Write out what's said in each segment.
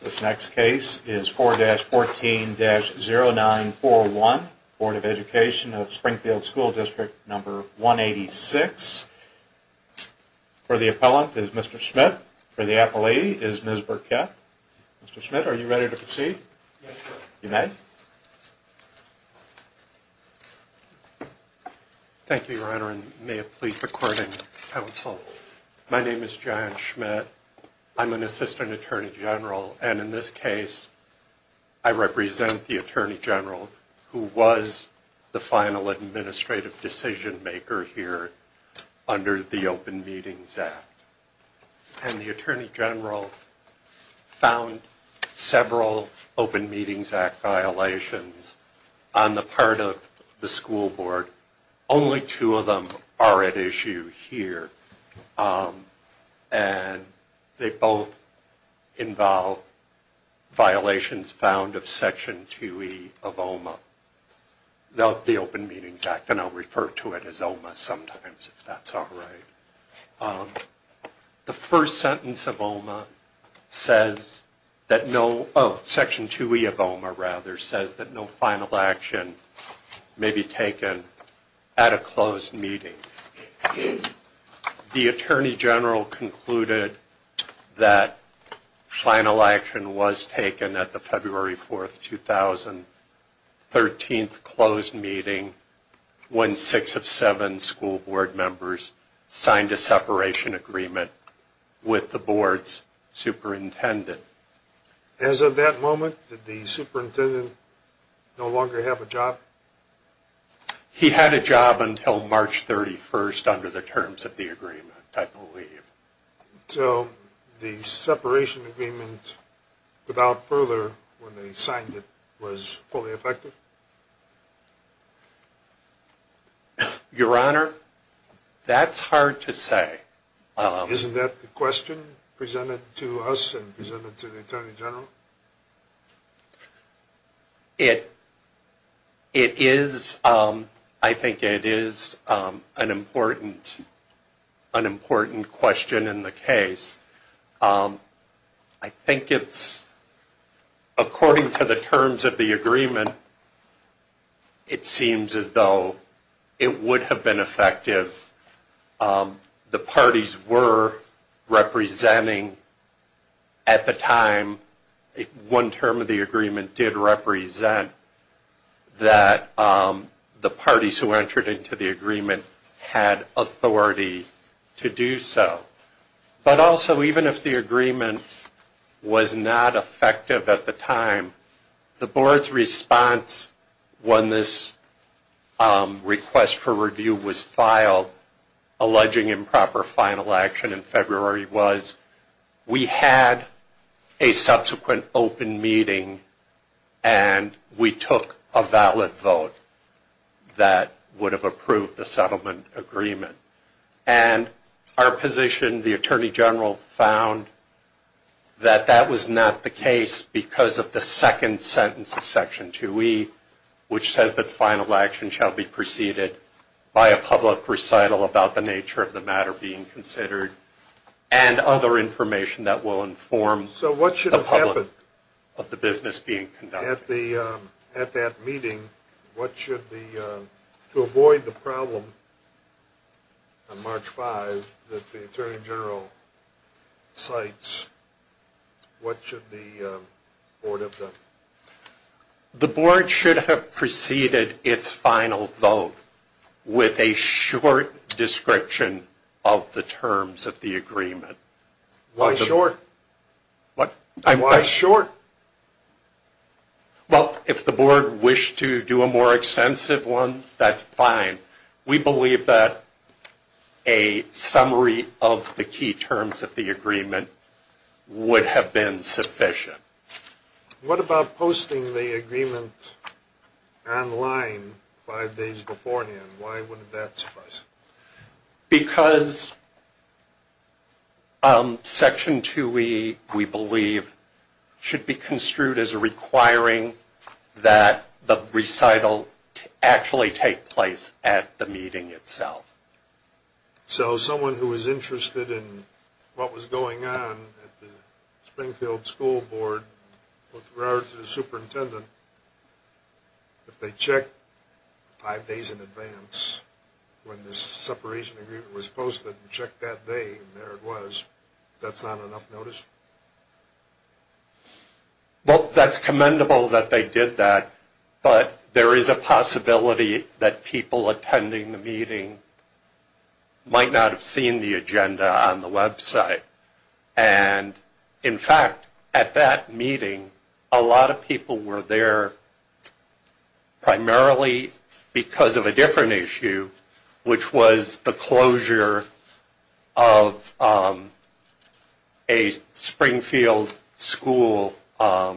This next case is 4-14-0941, Board of Education of Springfield School District 186. For the appellant is Mr. Schmidt. For the appellee is Ms. Burkett. Mr. Schmidt, are you ready to proceed? Yes, sir. You may. Thank you, Your Honor, and may it please the Courting Council. My name is John Schmidt. I'm an Assistant Attorney General, and in this case I represent the Attorney General who was the final administrative decision maker here under the Open Meetings Act. And the Attorney General found several Open Meetings Act violations on the part of the school board. Only two of them are at issue here, and they both involve violations found of Section 2E of OMA, the Open Meetings Act, and I'll refer to it as OMA sometimes if that's all right. The first sentence of Section 2E of OMA says that no final action may be taken at a closed meeting. The Attorney General concluded that final action was taken at the February 4, 2013, closed meeting when six of seven school board members signed a separation agreement with the board's superintendent. As of that moment, did the superintendent no longer have a job? He had a job until March 31st under the terms of the agreement, I believe. So the separation agreement, without further, when they signed it, was fully effective? Your Honor, that's hard to say. Isn't that the question presented to us and presented to the Attorney General? It is, I think it is, an important question in the case. I think it's, according to the terms of the agreement, it seems as though it would have been effective. The parties were representing at the time, one term of the agreement did represent, that the parties who entered into the agreement had authority to do so. But also, even if the agreement was not effective at the time, the board's response when this request for review was filed, alleging improper final action in February was, we had a subsequent open meeting and we took a valid vote that would have approved the settlement agreement. And our position, the Attorney General found that that was not the case because of the second sentence of Section 2E, which says that final action shall be preceded by a public recital about the nature of the matter being considered, and other information that will inform the public of the business being conducted. At that meeting, to avoid the problem on March 5 that the Attorney General cites, what should the board have done? The board should have preceded its final vote with a short description of the terms of the agreement. Why short? Well, if the board wished to do a more extensive one, that's fine. We believe that a summary of the key terms of the agreement would have been sufficient. What about posting the agreement online five days beforehand? Why wouldn't that suffice? Because Section 2E, we believe, should be construed as requiring that the recital actually take place at the meeting itself. So someone who is interested in what was going on at the Springfield School Board, the superintendent, if they check five days in advance when this separation agreement was posted, and check that day, and there it was, that's not enough notice? Well, that's commendable that they did that, but there is a possibility that people attending the meeting might not have seen the agenda on the website. And, in fact, at that meeting, a lot of people were there primarily because of a different issue, which was the closure of a Springfield school that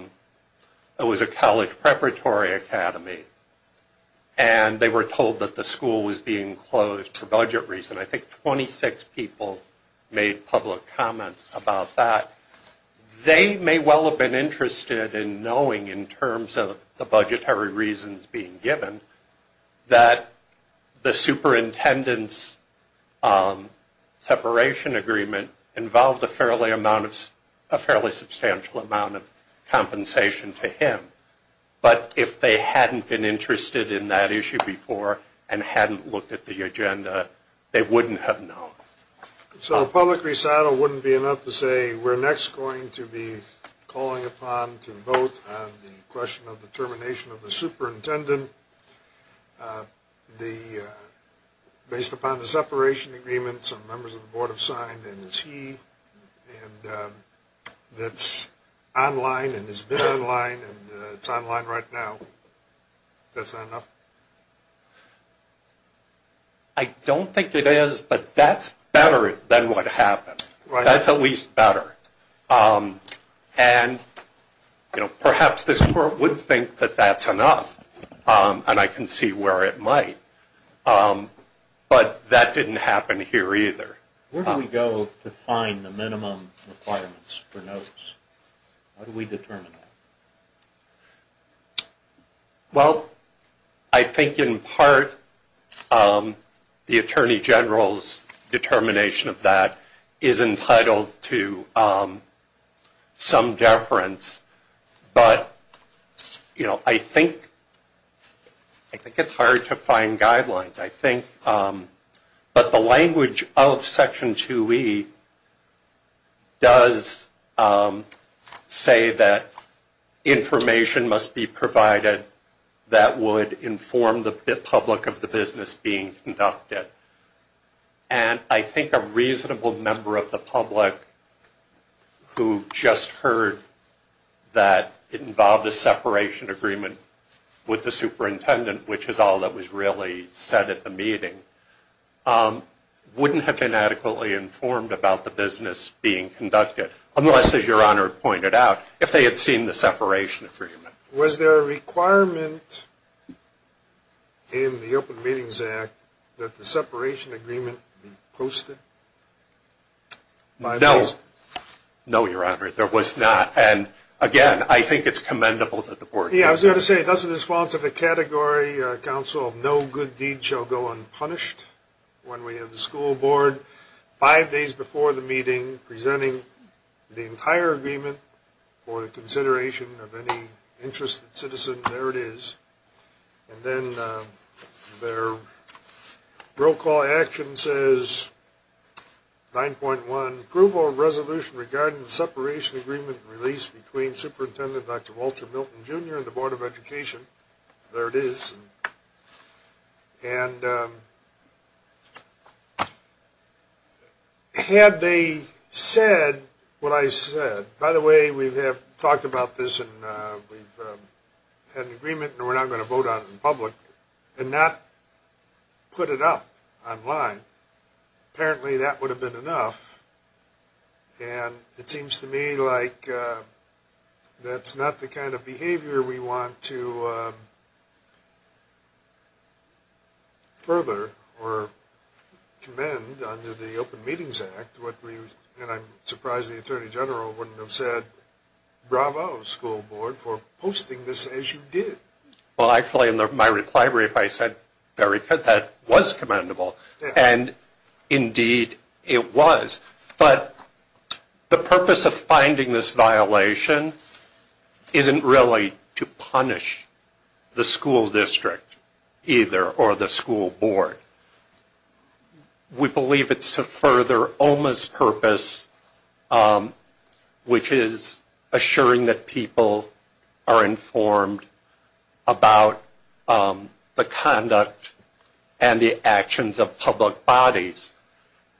was a college preparatory academy. And they were told that the school was being closed for budget reasons. And I think 26 people made public comments about that. They may well have been interested in knowing, in terms of the budgetary reasons being given, that the superintendent's separation agreement involved a fairly substantial amount of compensation to him. But if they hadn't been interested in that issue before and hadn't looked at the agenda, they wouldn't have known. So a public recital wouldn't be enough to say, we're next going to be calling upon to vote on the question of the termination of the superintendent. Based upon the separation agreement, some members of the Board have signed, and it's he that's online and it's been online and it's online right now. Is that enough? I don't think it is, but that's better than what happened. That's at least better. And perhaps this Board would think that that's enough, and I can see where it might. But that didn't happen here either. Where do we go to find the minimum requirements for notice? How do we determine that? Well, I think in part the Attorney General's determination of that is entitled to some deference. But I think it's hard to find guidelines. But the language of Section 2E does say that information must be provided that would inform the public of the business being conducted. And I think a reasonable member of the public who just heard that it involved a separation agreement with the superintendent, which is all that was really said at the meeting, wouldn't have been adequately informed about the business being conducted, unless, as Your Honor pointed out, if they had seen the separation agreement. Was there a requirement in the Open Meetings Act that the separation agreement be posted? No. No, Your Honor, there was not. And, again, I think it's commendable that the Board did that. I was going to say, thus in response to the category, Council of no good deed shall go unpunished when we have the school board five days before the meeting presenting the entire agreement for the consideration of any interested citizen. There it is. And then their roll call action says 9.1, regarding the separation agreement released between Superintendent Dr. Walter Milton, Jr. and the Board of Education. There it is. And had they said what I said. By the way, we have talked about this, and we've had an agreement, and we're not going to vote on it in public and not put it up online. Apparently that would have been enough. And it seems to me like that's not the kind of behavior we want to further or commend under the Open Meetings Act. And I'm surprised the Attorney General wouldn't have said bravo, school board, for posting this as you did. Well, actually in my reply brief I said, very good, that was commendable. And indeed it was. But the purpose of finding this violation isn't really to punish the school district either or the school board. We believe it's to further OMA's purpose, which is assuring that people are informed about the conduct and the actions of public bodies.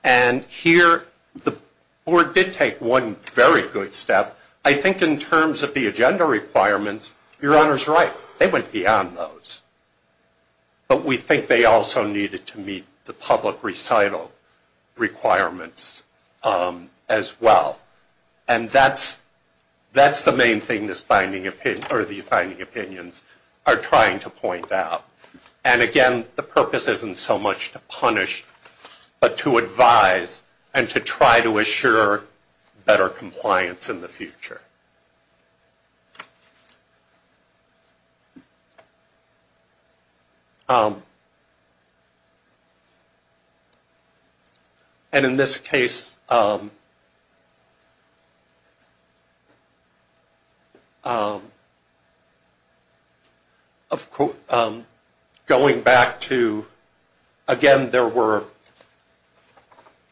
And here the board did take one very good step. I think in terms of the agenda requirements, Your Honor's right, they went beyond those. But we think they also needed to meet the public recital requirements as well. And that's the main thing the finding opinions are trying to point out. And again, the purpose isn't so much to punish but to advise and to try to assure better compliance in the future. And in this case, going back to, again, there were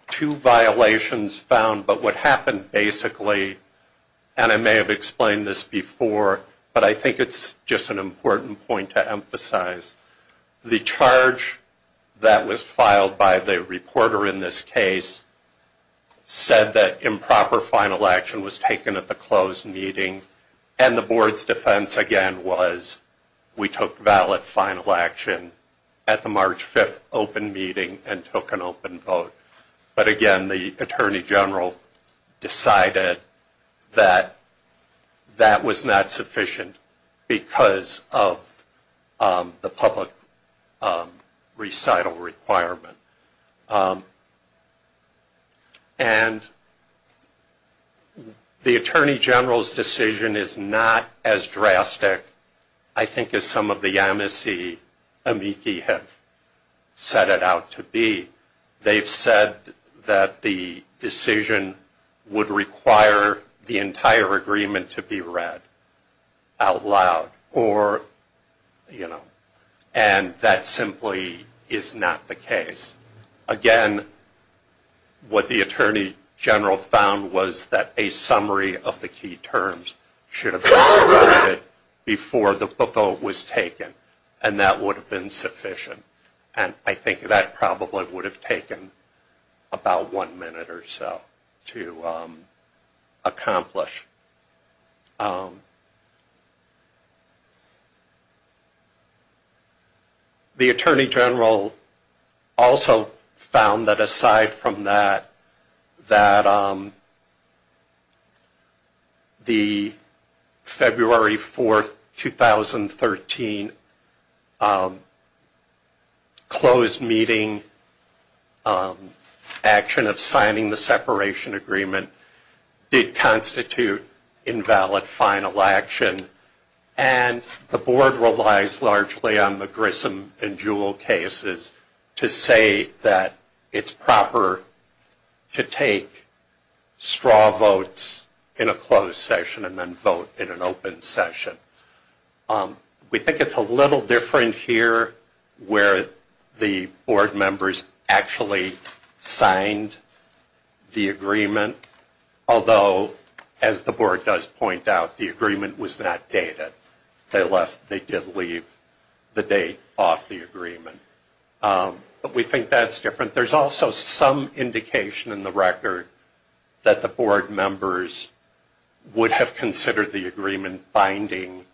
two violations found. But what happened basically, and I may have explained this before, but I think it's just an important point to emphasize. The charge that was filed by the reporter in this case said that improper final action was taken at the closed meeting. And the board's defense, again, was we took valid final action at the March 5th open meeting and took an open vote. But again, the Attorney General decided that that was not sufficient because of the public recital requirement. And the Attorney General's decision is not as drastic, I think, as some of the amici amici have set it out to be. They said that the decision would require the entire agreement to be read out loud. And that simply is not the case. Again, what the Attorney General found was that a summary of the key terms should have been provided before the vote was taken. And that would have been sufficient. And I think that probably would have taken about one minute or so to accomplish. The Attorney General also found that aside from that, that the February 4th, 2013, closed meeting action of signing the separation agreement did constitute invalid final action. And the board relies largely on the Grissom and Jewell cases to say that it's proper to take straw votes in a closed session and then vote in an open session. We think it's a little different here where the board members actually signed the agreement. Although, as the board does point out, the agreement was not dated. They did leave the date off the agreement. But we think that's different. But there's also some indication in the record that the board members would have considered the agreement binding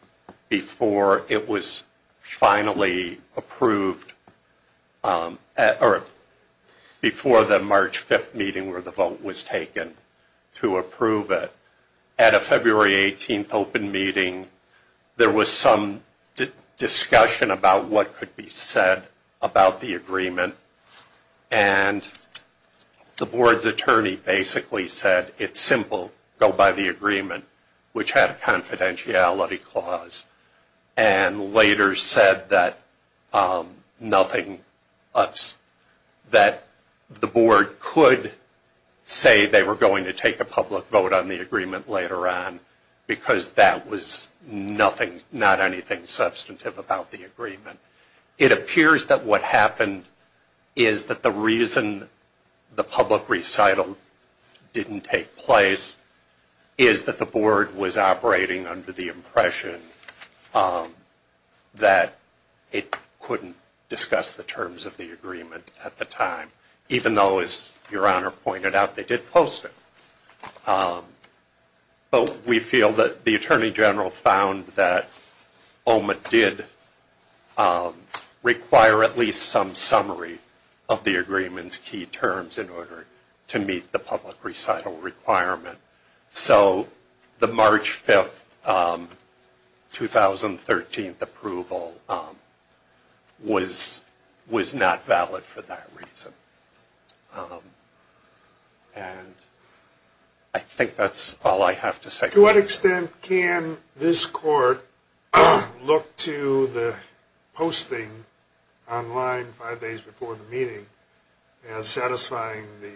before it was finally approved or before the March 5th meeting where the vote was taken to approve it. At a February 18th open meeting, there was some discussion about what could be said about the agreement. And the board's attorney basically said, it's simple, go by the agreement, which had a confidentiality clause. And later said that the board could say they were going to take a public vote on the agreement later on, because that was not anything substantive about the agreement. It appears that what happened is that the reason the public recital didn't take place is that the board was operating under the impression that it couldn't discuss the terms of the agreement at the time. Even though, as Your Honor pointed out, they did post it. But we feel that the attorney general found that OMA did require at least some summary of the agreement's key terms in order to meet the public recital requirement. So the March 5th, 2013 approval was not valid for that reason. To what extent can this court look to the posting online five days before the meeting as satisfying the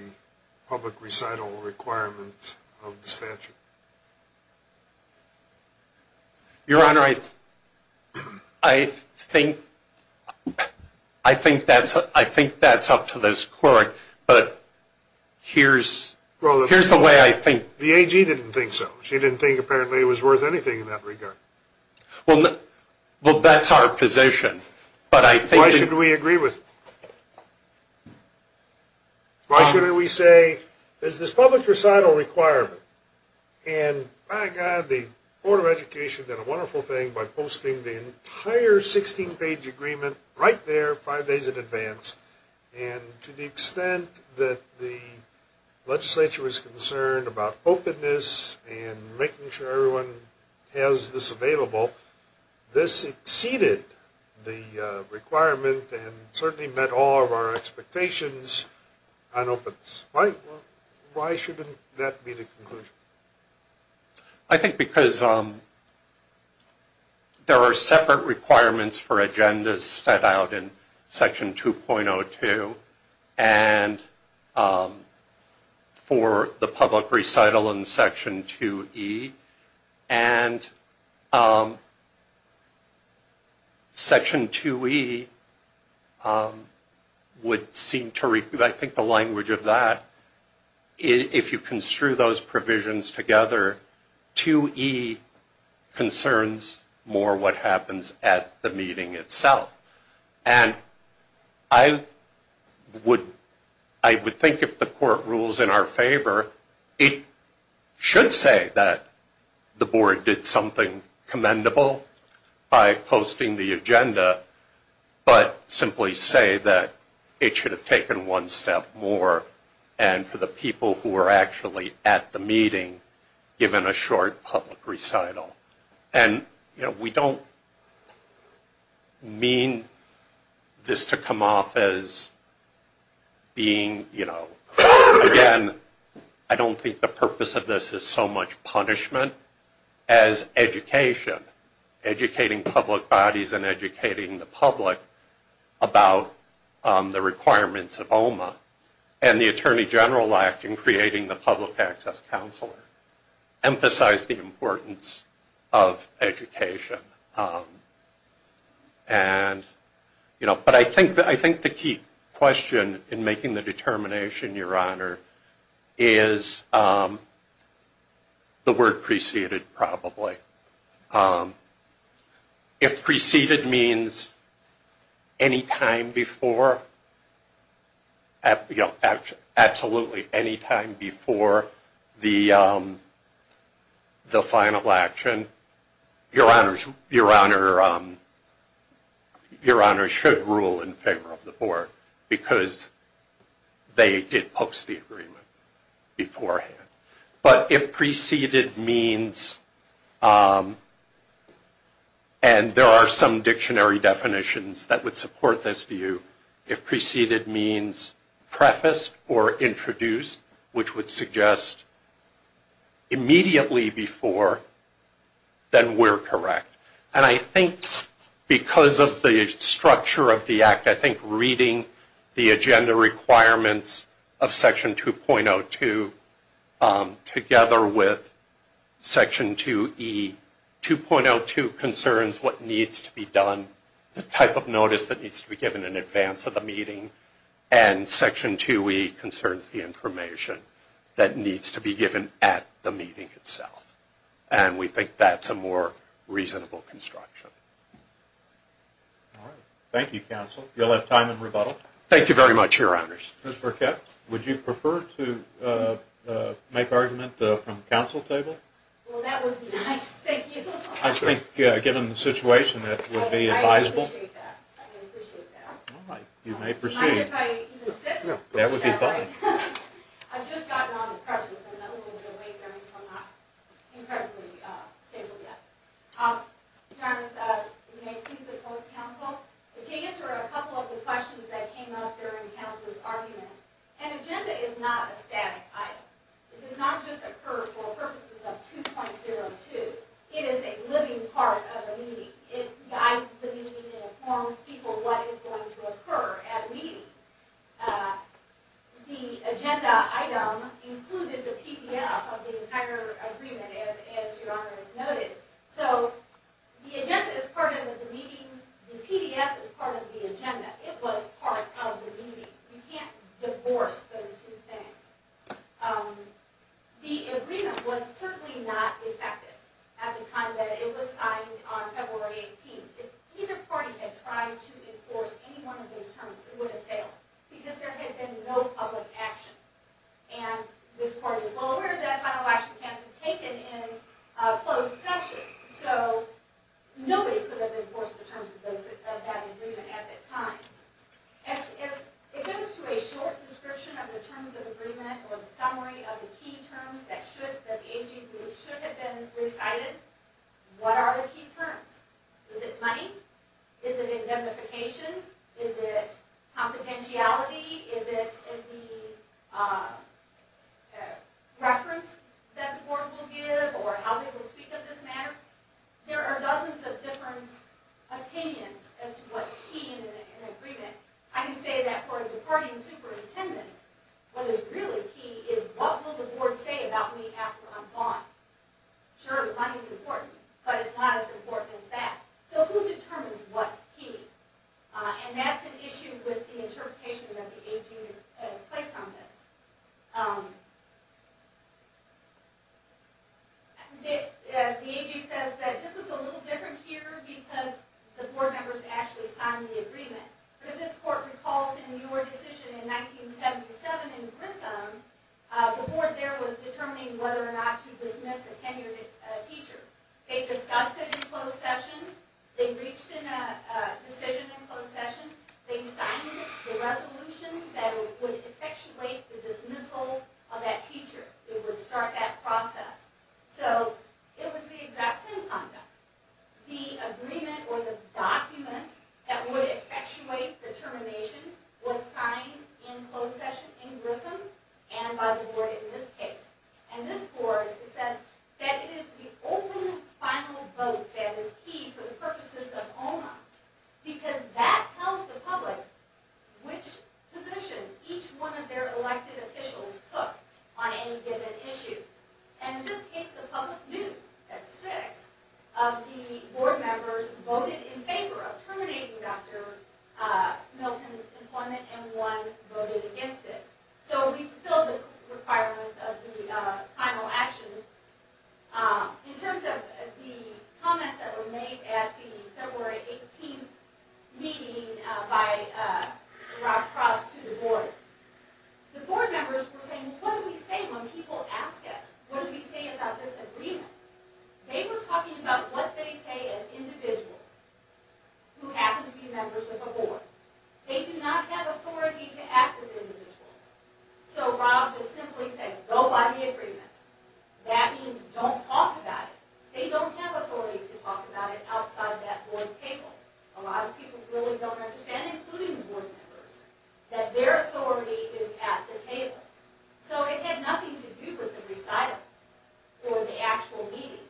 public recital requirement of the statute? Your Honor, I think that's up to this court. But here's the way I think. The AG didn't think so. She didn't think apparently it was worth anything in that regard. Well, that's our position. Why shouldn't we agree with it? Why shouldn't we say, there's this public recital requirement, and by God, the Board of Education did a wonderful thing by posting the entire 16-page agreement right there five days in advance. And to the extent that the legislature was concerned about openness and making sure everyone has this available, this exceeded the requirement and certainly met all of our expectations on openness. Why shouldn't that be the conclusion? I think because there are separate requirements for agendas set out in Section 2.02 and for the public recital in Section 2e. And Section 2e would seem to recoup. I think the language of that, if you construe those provisions together, 2e concerns more what happens at the meeting itself. And I would think if the court rules in our favor, it should say that Section 2.02 and Section 2.02. The Board did something commendable by posting the agenda, but simply say that it should have taken one step more. And for the people who were actually at the meeting, given a short public recital. And we don't mean this to come off as being, again, I don't think the purpose of this is so much punishment. As education, educating public bodies and educating the public about the requirements of OMA. And the Attorney General Act in creating the Public Access Counselor emphasized the importance of education. But I think the key question in making the determination, Your Honor, is the word precision. And I think it's preceded, probably. If preceded means any time before, absolutely any time before the final action, Your Honor should rule in favor of the Board. Because they did post the agreement beforehand. But if preceded means, and there are some dictionary definitions that would support this view. If preceded means prefaced or introduced, which would suggest immediately before, then we're correct. And I think because of the structure of the Act, I think reading the agenda requirements of Section 2.02 together with Section 2E, 2.02 concerns what needs to be done, the type of notice that needs to be given in advance of the meeting. And Section 2E concerns the information that needs to be given at the meeting itself. And we think that's a more reasonable construction. All right. Thank you, Counsel. You'll have time in rebuttal. Thank you very much, Your Honors. Ms. Burkett, would you prefer to make argument from the Counsel table? Well, that would be nice. Thank you. I think given the situation, that would be advisable. I appreciate that. I appreciate that. All right. You may proceed. That would be fine. I've just gotten on the precious. I'm a little bit late there because I'm not incredibly stable yet. Your Honors, you may please report to Counsel. Would you answer a couple of the questions that came up during Counsel's argument? An agenda is not a static item. It does not just occur for purposes of 2.02. It is a living part of the meeting. It guides the meeting and informs people what is going to occur at a meeting. The agenda item included the PDF of the entire agreement, as Your Honors noted. So, the agenda is part of the meeting. The PDF is part of the agenda. It was part of the meeting. You can't divorce those two things. The agreement was certainly not effective at the time that it was signed on February 18th. If either party had tried to enforce any one of those terms, it would have failed. Because there had been no public action. And this party is well aware that a final action can't be taken in a closed session. So, nobody could have enforced the terms of that agreement at that time. As it goes to a short description of the terms of agreement, or the summary of the key terms that the AG should have recited, what are the key terms? Is it money? Is it indemnification? Is it confidentiality? Is it the reference that the board will give? Or how they will speak of this matter? There are dozens of different opinions as to what's key in an agreement. I can say that for a departing superintendent, what is really key is, what will the board say about me after I'm gone? Sure, money is important, but it's not as important as that. So, who determines what's key? And that's an issue with the interpretation that the AG has placed on this. The AG says that this is a little different here because the board members actually signed the agreement. But if this court recalls in your decision in 1977 in Grissom, the board there was determining whether or not to dismiss a tenured teacher. They discussed it in closed session. They reached a decision in closed session. They signed the resolution that would effectuate the dismissal of that teacher. It would start that process. So, it was the exact same conduct. The agreement or the document that would effectuate the termination was signed in closed session in Grissom and by the board in this case. And this board said that it is the open final vote that is key for the purposes of OMA because that tells the public which position each one of their elected officials took on any given issue. And in this case, the public knew that six of the board members voted in favor of terminating Dr. Milton's employment and one voted against it. So, we fulfilled the requirements of the final action. In terms of the comments that were made at the February 18th meeting by Rob Cross to the board, the board members were saying, what do we say when people ask us? What do we say about this agreement? They were talking about what they say as individuals who happen to be members of the board. So, Rob just simply said, go by the agreement. That means don't talk about it. They don't have authority to talk about it outside that board table. A lot of people really don't understand, including the board members, that their authority is at the table. So, it had nothing to do with the recital or the actual meeting.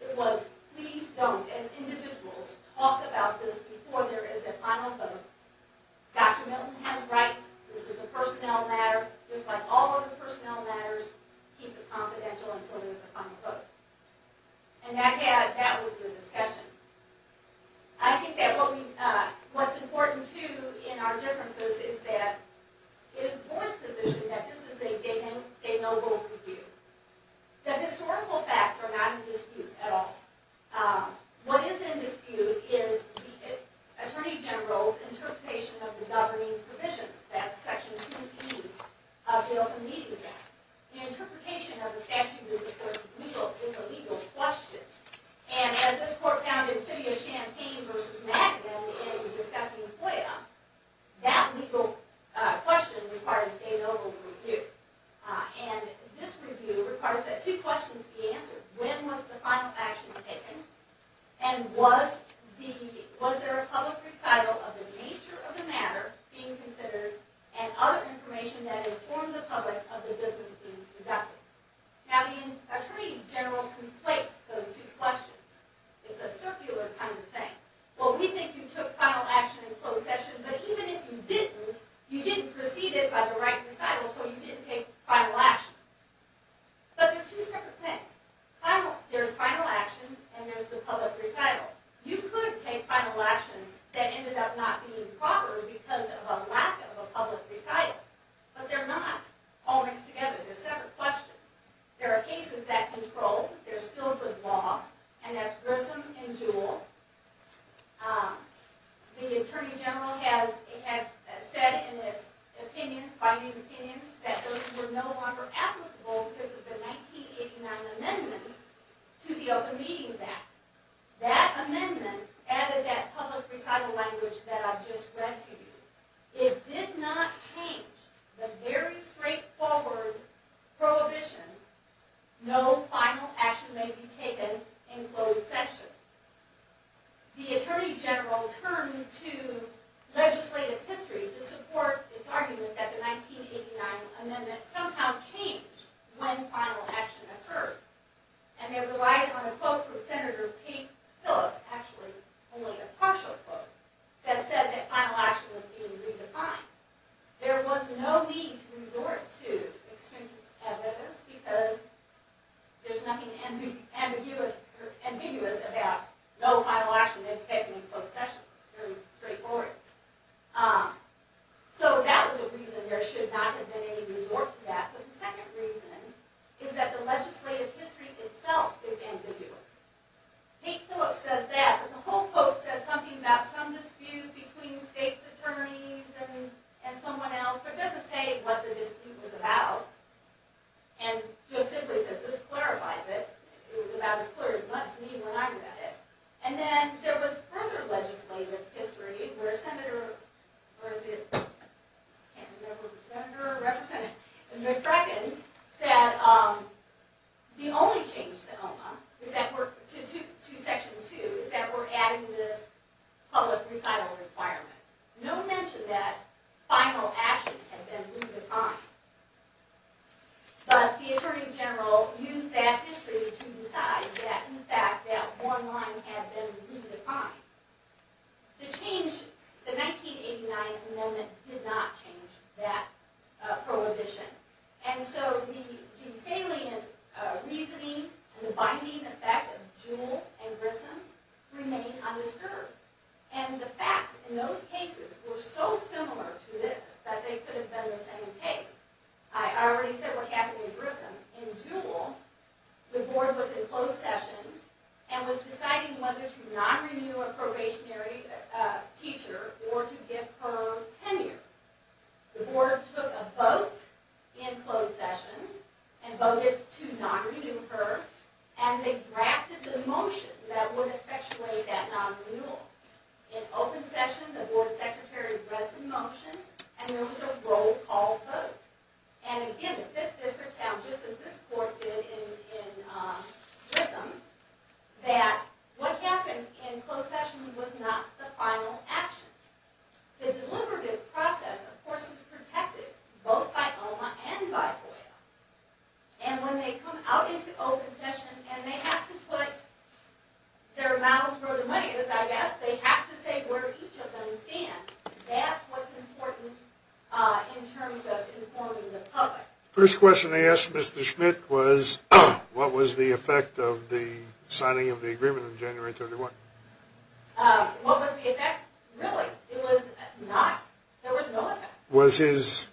It was, please don't, as individuals, talk about this before there is a final vote. Dr. Milton has rights. This is a personnel matter. Just like all other personnel matters, keep it confidential until there is a final vote. And that was the discussion. I think that what's important, too, in our differences is that it is the board's position that they know what we do. The historical facts are not in dispute at all. What is in dispute is the Attorney General's interpretation of the governing provisions. That's Section 2B of the Open Meeting Act. The interpretation of the statute is, of course, a legal question. And as this court found in Sidio Champagne v. Magnum in discussing FOIA, that legal question requires a legal review. And this review requires that two questions be answered. When was the final action taken? And was there a public recital of the nature of the matter being considered, and other information that informed the public of the business being conducted? Now, the Attorney General conflates those two questions. It's a circular kind of thing. Well, we think you took final action in closed session, but even if you didn't, you didn't proceed it by the right recital, so you didn't take final action. But they're two separate things. There's final action, and there's the public recital. You could take final action that ended up not being proper because of a lack of a public recital. But they're not all mixed together. They're separate questions. There are cases that control. There's still good law, and that's Grissom and Jewell. The Attorney General has said in his opinions, binding opinions, that those were no longer applicable because of the 1989 amendment to the Open Meetings Act. That amendment added that public recital language that I've just read to you. It did not change the very straightforward prohibition, no final action may be taken in closed session. The Attorney General turned to legislative history to support its argument that the 1989 amendment somehow changed when final action occurred. And they relied on a quote from Senator Kate Phillips, actually only a partial quote, that said that final action was being redefined. There was no need to resort to extrinsic evidence, because there's nothing ambiguous about no final action may be taken in closed session. Very straightforward. So that was a reason there should not have been any resort to that. But the second reason is that the legislative history itself is ambiguous. Kate Phillips says that, but the whole quote says something about some dispute between state's attorneys and someone else, but doesn't say what the dispute was about. And just simply says, this clarifies it. It was about as clear as much to me when I read it. And then there was further legislative history where Senator McCracken said, the only change to Section 2 is that we're adding this public recital requirement. No mention that final action has been redefined. But the Attorney General used that history to decide that in fact that one line had been redefined. The change, the 1989 amendment did not change that prohibition. And so the salient reasoning and the binding effect of Jewell and Grissom remained undisturbed. And the facts in those cases were so similar to this that they could have been the same case. I already said what happened in Grissom. In Jewell, the board was in closed session and was deciding whether to non-renew a probationary teacher or to give her tenure. The board took a vote in closed session and voted to non-renew her. And they drafted the motion that would effectuate that non-renewal. In open session, the board secretary read the motion and there was a roll call vote. And again, the 5th District found, just as this court did in Grissom, that what happened in closed session was not the final action. The deliberative process, of course, is protected both by OMA and by OIL. And when they come out into open session and they have to put their mouths where their money is, I guess, they have to say where each of them stand. That's what's important in terms of informing the public. First question I asked Mr. Schmidt was, what was the effect of the signing of the agreement on January 31? What was the effect? Really, it was not. There was no effect. Was his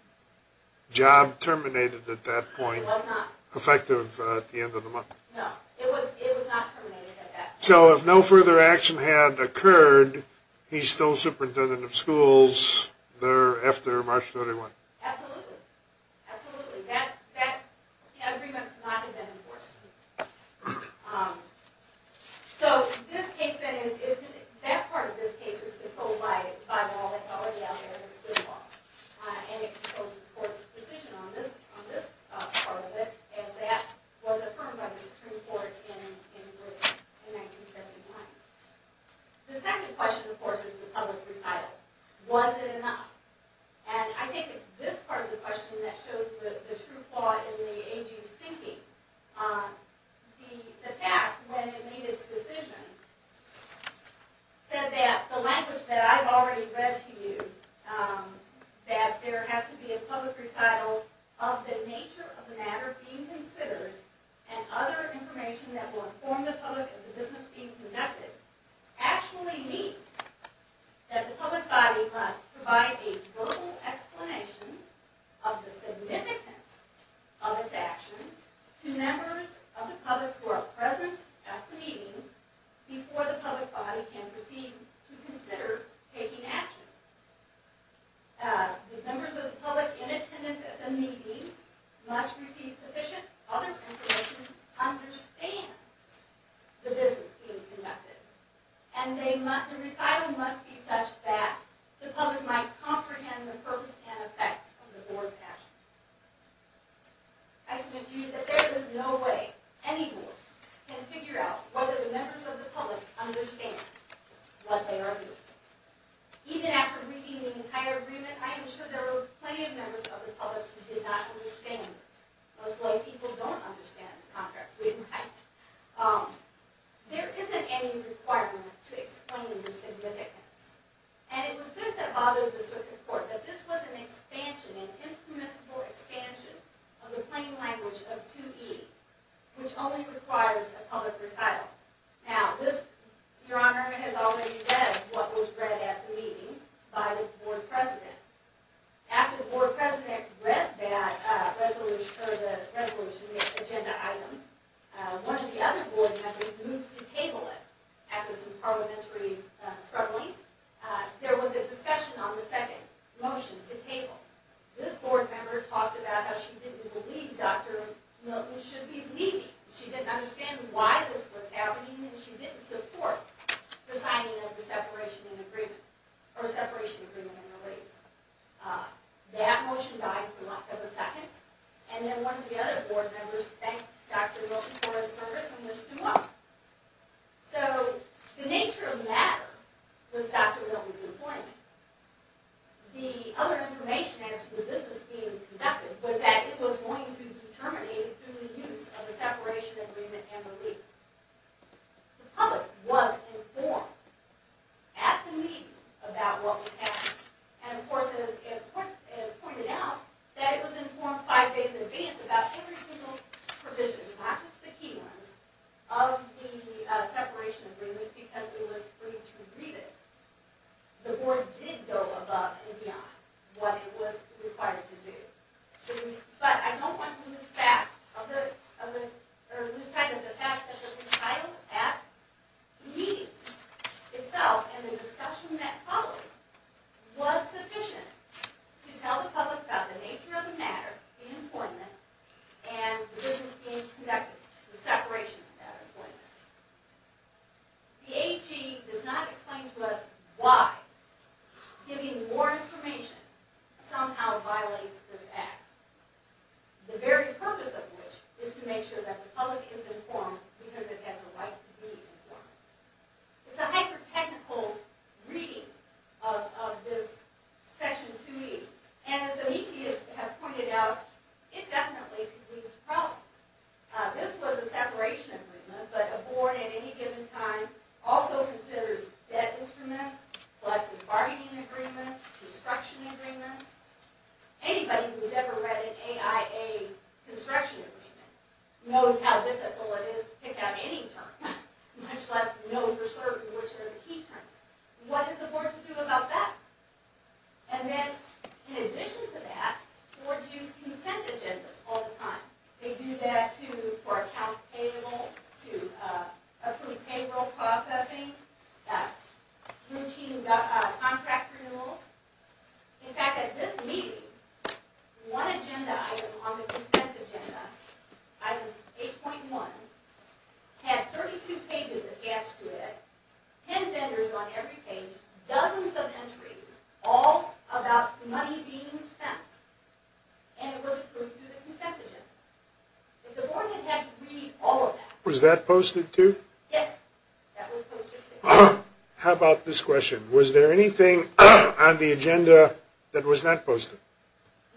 job terminated at that point? It was not. Effective at the end of the month? No, it was not terminated at that point. So if no further action had occurred, he's still superintendent of schools there after March 31? Absolutely. Absolutely. That agreement could not have been enforced. So that part of this case is controlled by law. It's already out there. And it's the court's decision on this part of it. And that was affirmed by the Supreme Court in Grissom in 1939. The second question, of course, is the public recital. Was it enough? And I think it's this part of the question that shows the true flaw in the AG's thinking. The fact, when it made its decision, said that the language that I've already read to you, that there has to be a public recital of the nature of the matter being considered, and other information that will inform the public of the business being conducted, actually means that the public body must provide a verbal explanation of the significance of its actions to members of the public who are present at the meeting, before the public body can proceed to consider taking action. The members of the public in attendance at the meeting must receive sufficient other information to understand the business being conducted. And the recital must be such that the public might comprehend the purpose and effect of the board's actions. I submit to you that there is no way any board can figure out whether the members of the public understand what they are doing. Even after reading the entire agreement, I am sure there were plenty of members of the public who did not understand this. That's why people don't understand contracts, right? There isn't any requirement to explain the significance. And it was this that bothered the circuit court, that this was an expansion, an impermissible expansion, of the plain language of 2E, which only requires a public recital. Now, this, your honor, has already said what was read at the meeting by the board president. After the board president read that resolution, the agenda item, one of the other board members moved to table it after some parliamentary struggling. There was a discussion on the second motion to table. This board member talked about how she didn't believe Dr. Milton should be leaving. She didn't understand why this was happening, and she didn't support the signing of the separation agreement, That motion died for a second, and then one of the other board members thanked Dr. Milton for his service and wished him well. So, the nature of the matter was Dr. Milton's employment. The other information as to the business being conducted was that it was going to be terminated through the use of the separation agreement and relief. The public was informed at the meeting about what was happening. And, of course, it was pointed out that it was informed five days in advance about every single provision, not just the key ones, of the separation agreement because it was free to read it. The board did go above and beyond what it was required to do. But, I don't want to lose sight of the fact that the retitled act meeting itself and the discussion that followed was sufficient to tell the public about the nature of the matter, the employment, and the business being conducted, the separation of that employment. The AG does not explain to us why giving more information somehow violates this act. The very purpose of which is to make sure that the public is informed because it has a right to be informed. It's a hyper-technical reading of this section 2E. And, as Amici has pointed out, it definitely could lead to problems. This was a separation agreement, but a board at any given time also considers debt instruments, collective bargaining agreements, construction agreements. Anybody who's ever read an AIA construction agreement knows how difficult it is to pick out any term, much less know for certain which are the key terms. What is the board to do about that? And then, in addition to that, boards use consent agendas all the time. They do that for accounts payable, to approve payroll processing, routine contract renewals. In fact, at this meeting, one agenda item on the consent agenda, item 8.1, had 32 pages attached to it, 10 vendors on every page, dozens of entries, all about money being spent. And it was approved through the consent agenda. The board had to read all of that. Was that posted, too? Yes, that was posted, too. How about this question? Was there anything on the agenda that was not posted?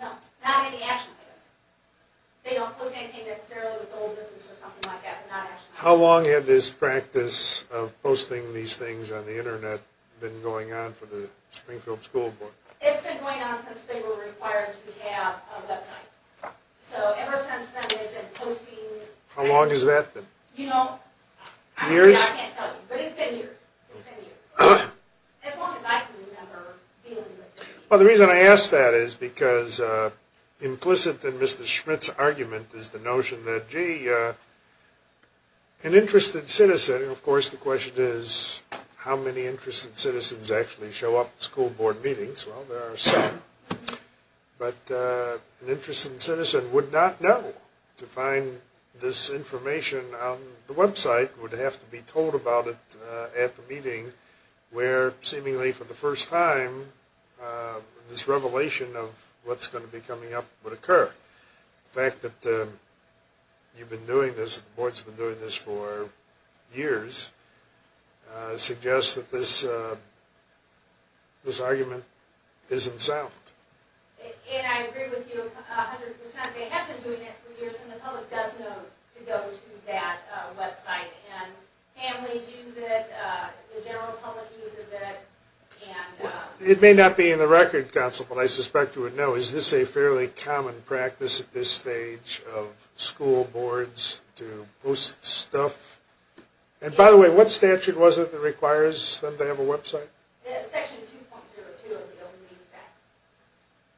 No, not any action papers. They don't post anything necessarily with the whole business or something like that. They're not action papers. How long had this practice of posting these things on the Internet been going on for the Springfield School Board? It's been going on since they were required to have a website. So ever since then, they've been posting. How long has that been? You know, I can't tell you. Years? But it's been years. It's been years. As long as I can remember dealing with it. Well, the reason I ask that is because implicit in Mr. Schmidt's argument is the notion that, gee, an interested citizen, and of course the question is how many interested citizens actually show up to school board meetings. Well, there are some. But an interested citizen would not know to find this information on the website, would have to be told about it at the meeting where, seemingly for the first time, this revelation of what's going to be coming up would occur. The fact that you've been doing this, the board's been doing this for years, suggests that this argument isn't solved. And I agree with you 100%. They have been doing it for years, and the public does know to go to that website. And families use it. The general public uses it. It may not be in the Record Council, but I suspect you would know. Is this a fairly common practice at this stage of school boards to post stuff? And by the way, what statute was it that requires them to have a website? Section 2.02 of the Open Meeting Act.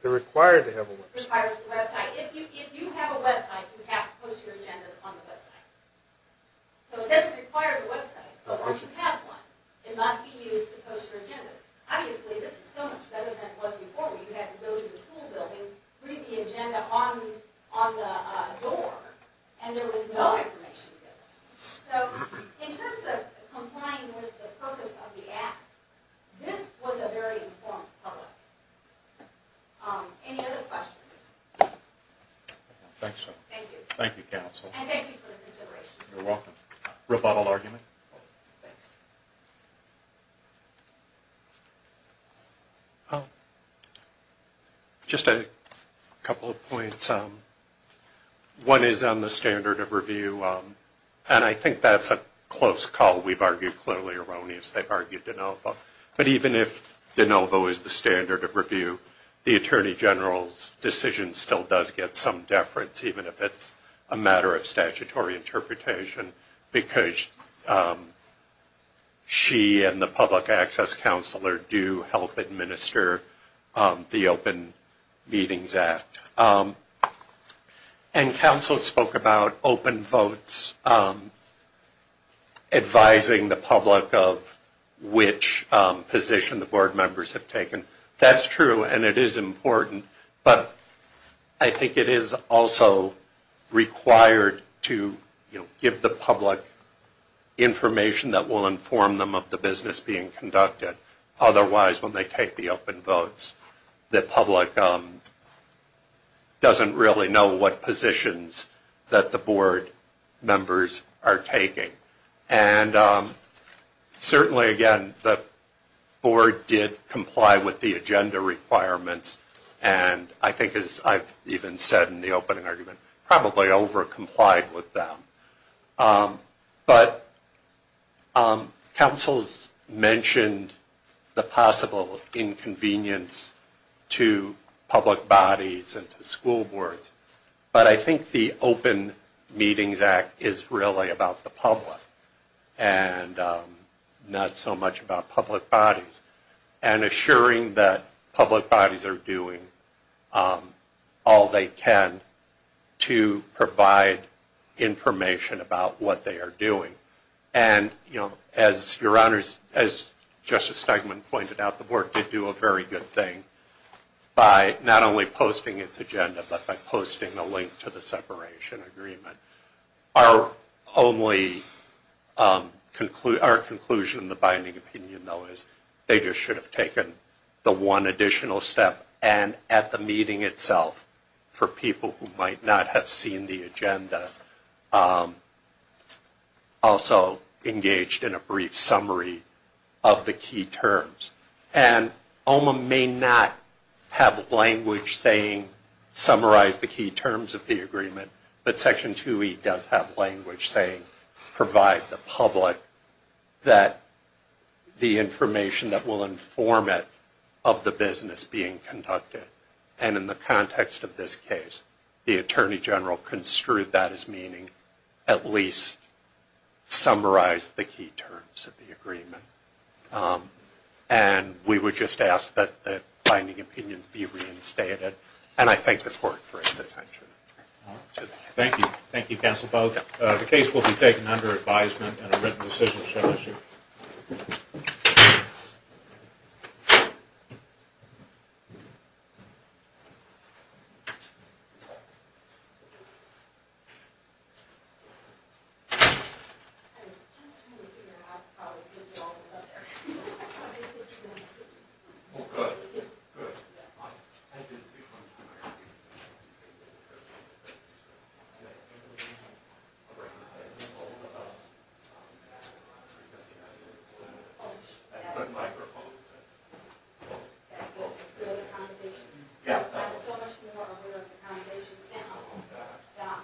They're required to have a website. Requires a website. If you have a website, you have to post your agendas on the website. So it doesn't require a website, but once you have one, it must be used to post your agendas. Obviously, this is so much better than it was before where you had to go to the school building, read the agenda on the door, and there was no information there. So in terms of complying with the purpose of the Act, this was a very informed public. Any other questions? Thank you. Thank you, Counsel. And thank you for the consideration. You're welcome. Rebuttal argument? Thanks. Just a couple of points. One is on the standard of review, and I think that's a close call. We've argued clearly erroneous. They've argued de novo. But even if de novo is the standard of review, the Attorney General's decision still does get some deference, even if it's a matter of statutory interpretation, because she and the public access counselor do help administer the Open Meetings Act. And Counsel spoke about open votes advising the public of which position the board members have taken. That's true, and it is important. But I think it is also required to, you know, give the public information that will inform them of the business being conducted. Otherwise, when they take the open votes, the public doesn't really know what positions that the board members are taking. And certainly, again, the board did comply with the agenda requirements, and I think, as I've even said in the opening argument, probably overcomplied with them. But Counsel's mentioned the possible inconvenience to public bodies and to school boards, but I think the Open Meetings Act is really about the public and not so much about public bodies, and assuring that public bodies are doing all they can to provide information about what they are doing. And, you know, as Your Honors, as Justice Steigman pointed out, the board did do a very good thing by not only posting its agenda, but by posting a link to the separation agreement. Our only conclusion, the binding opinion, though, is they just should have taken the one additional step, and at the meeting itself, for people who might not have seen the agenda, also engaged in a brief summary of the key terms. And OMMA may not have language saying, summarize the key terms of the agreement, but Section 2E does have language saying, provide the public that the information that will inform it of the business being conducted. And in the context of this case, the Attorney General construed that as meaning, at least summarize the key terms of the agreement. And we would just ask that the binding opinion be reinstated. And I thank the Court for its attention. Thank you. Thank you, Counsel Pogue. The case will be taken under advisement and a written decision shall issue. Thank you. I'm so much more aware of the foundations now. Yeah.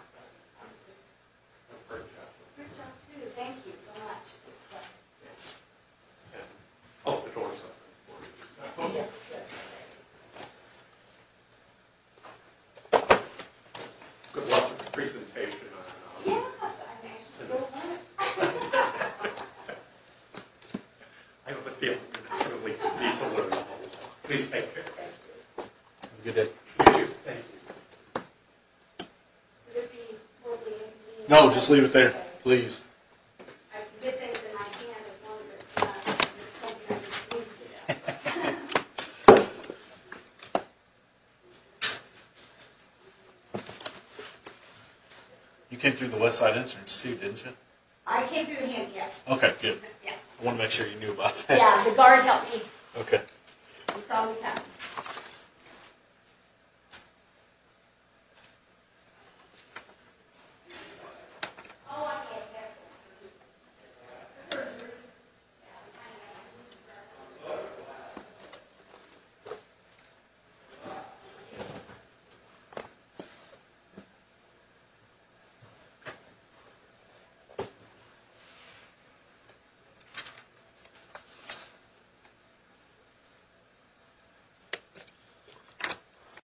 Great job. Great job, too. Thank you so much. Good luck with the presentation. Yes, I'm anxious to go home. Thank you. Please take care. Thank you. Have a good day. You, too. No, just leave it there, please. I can get things in my hand. You came through the Westside Institute, didn't you? I came through here, yes. Okay, good. I want to make sure you knew about that. Yeah, the guard helped me. Okay. That's all we have. Thank you.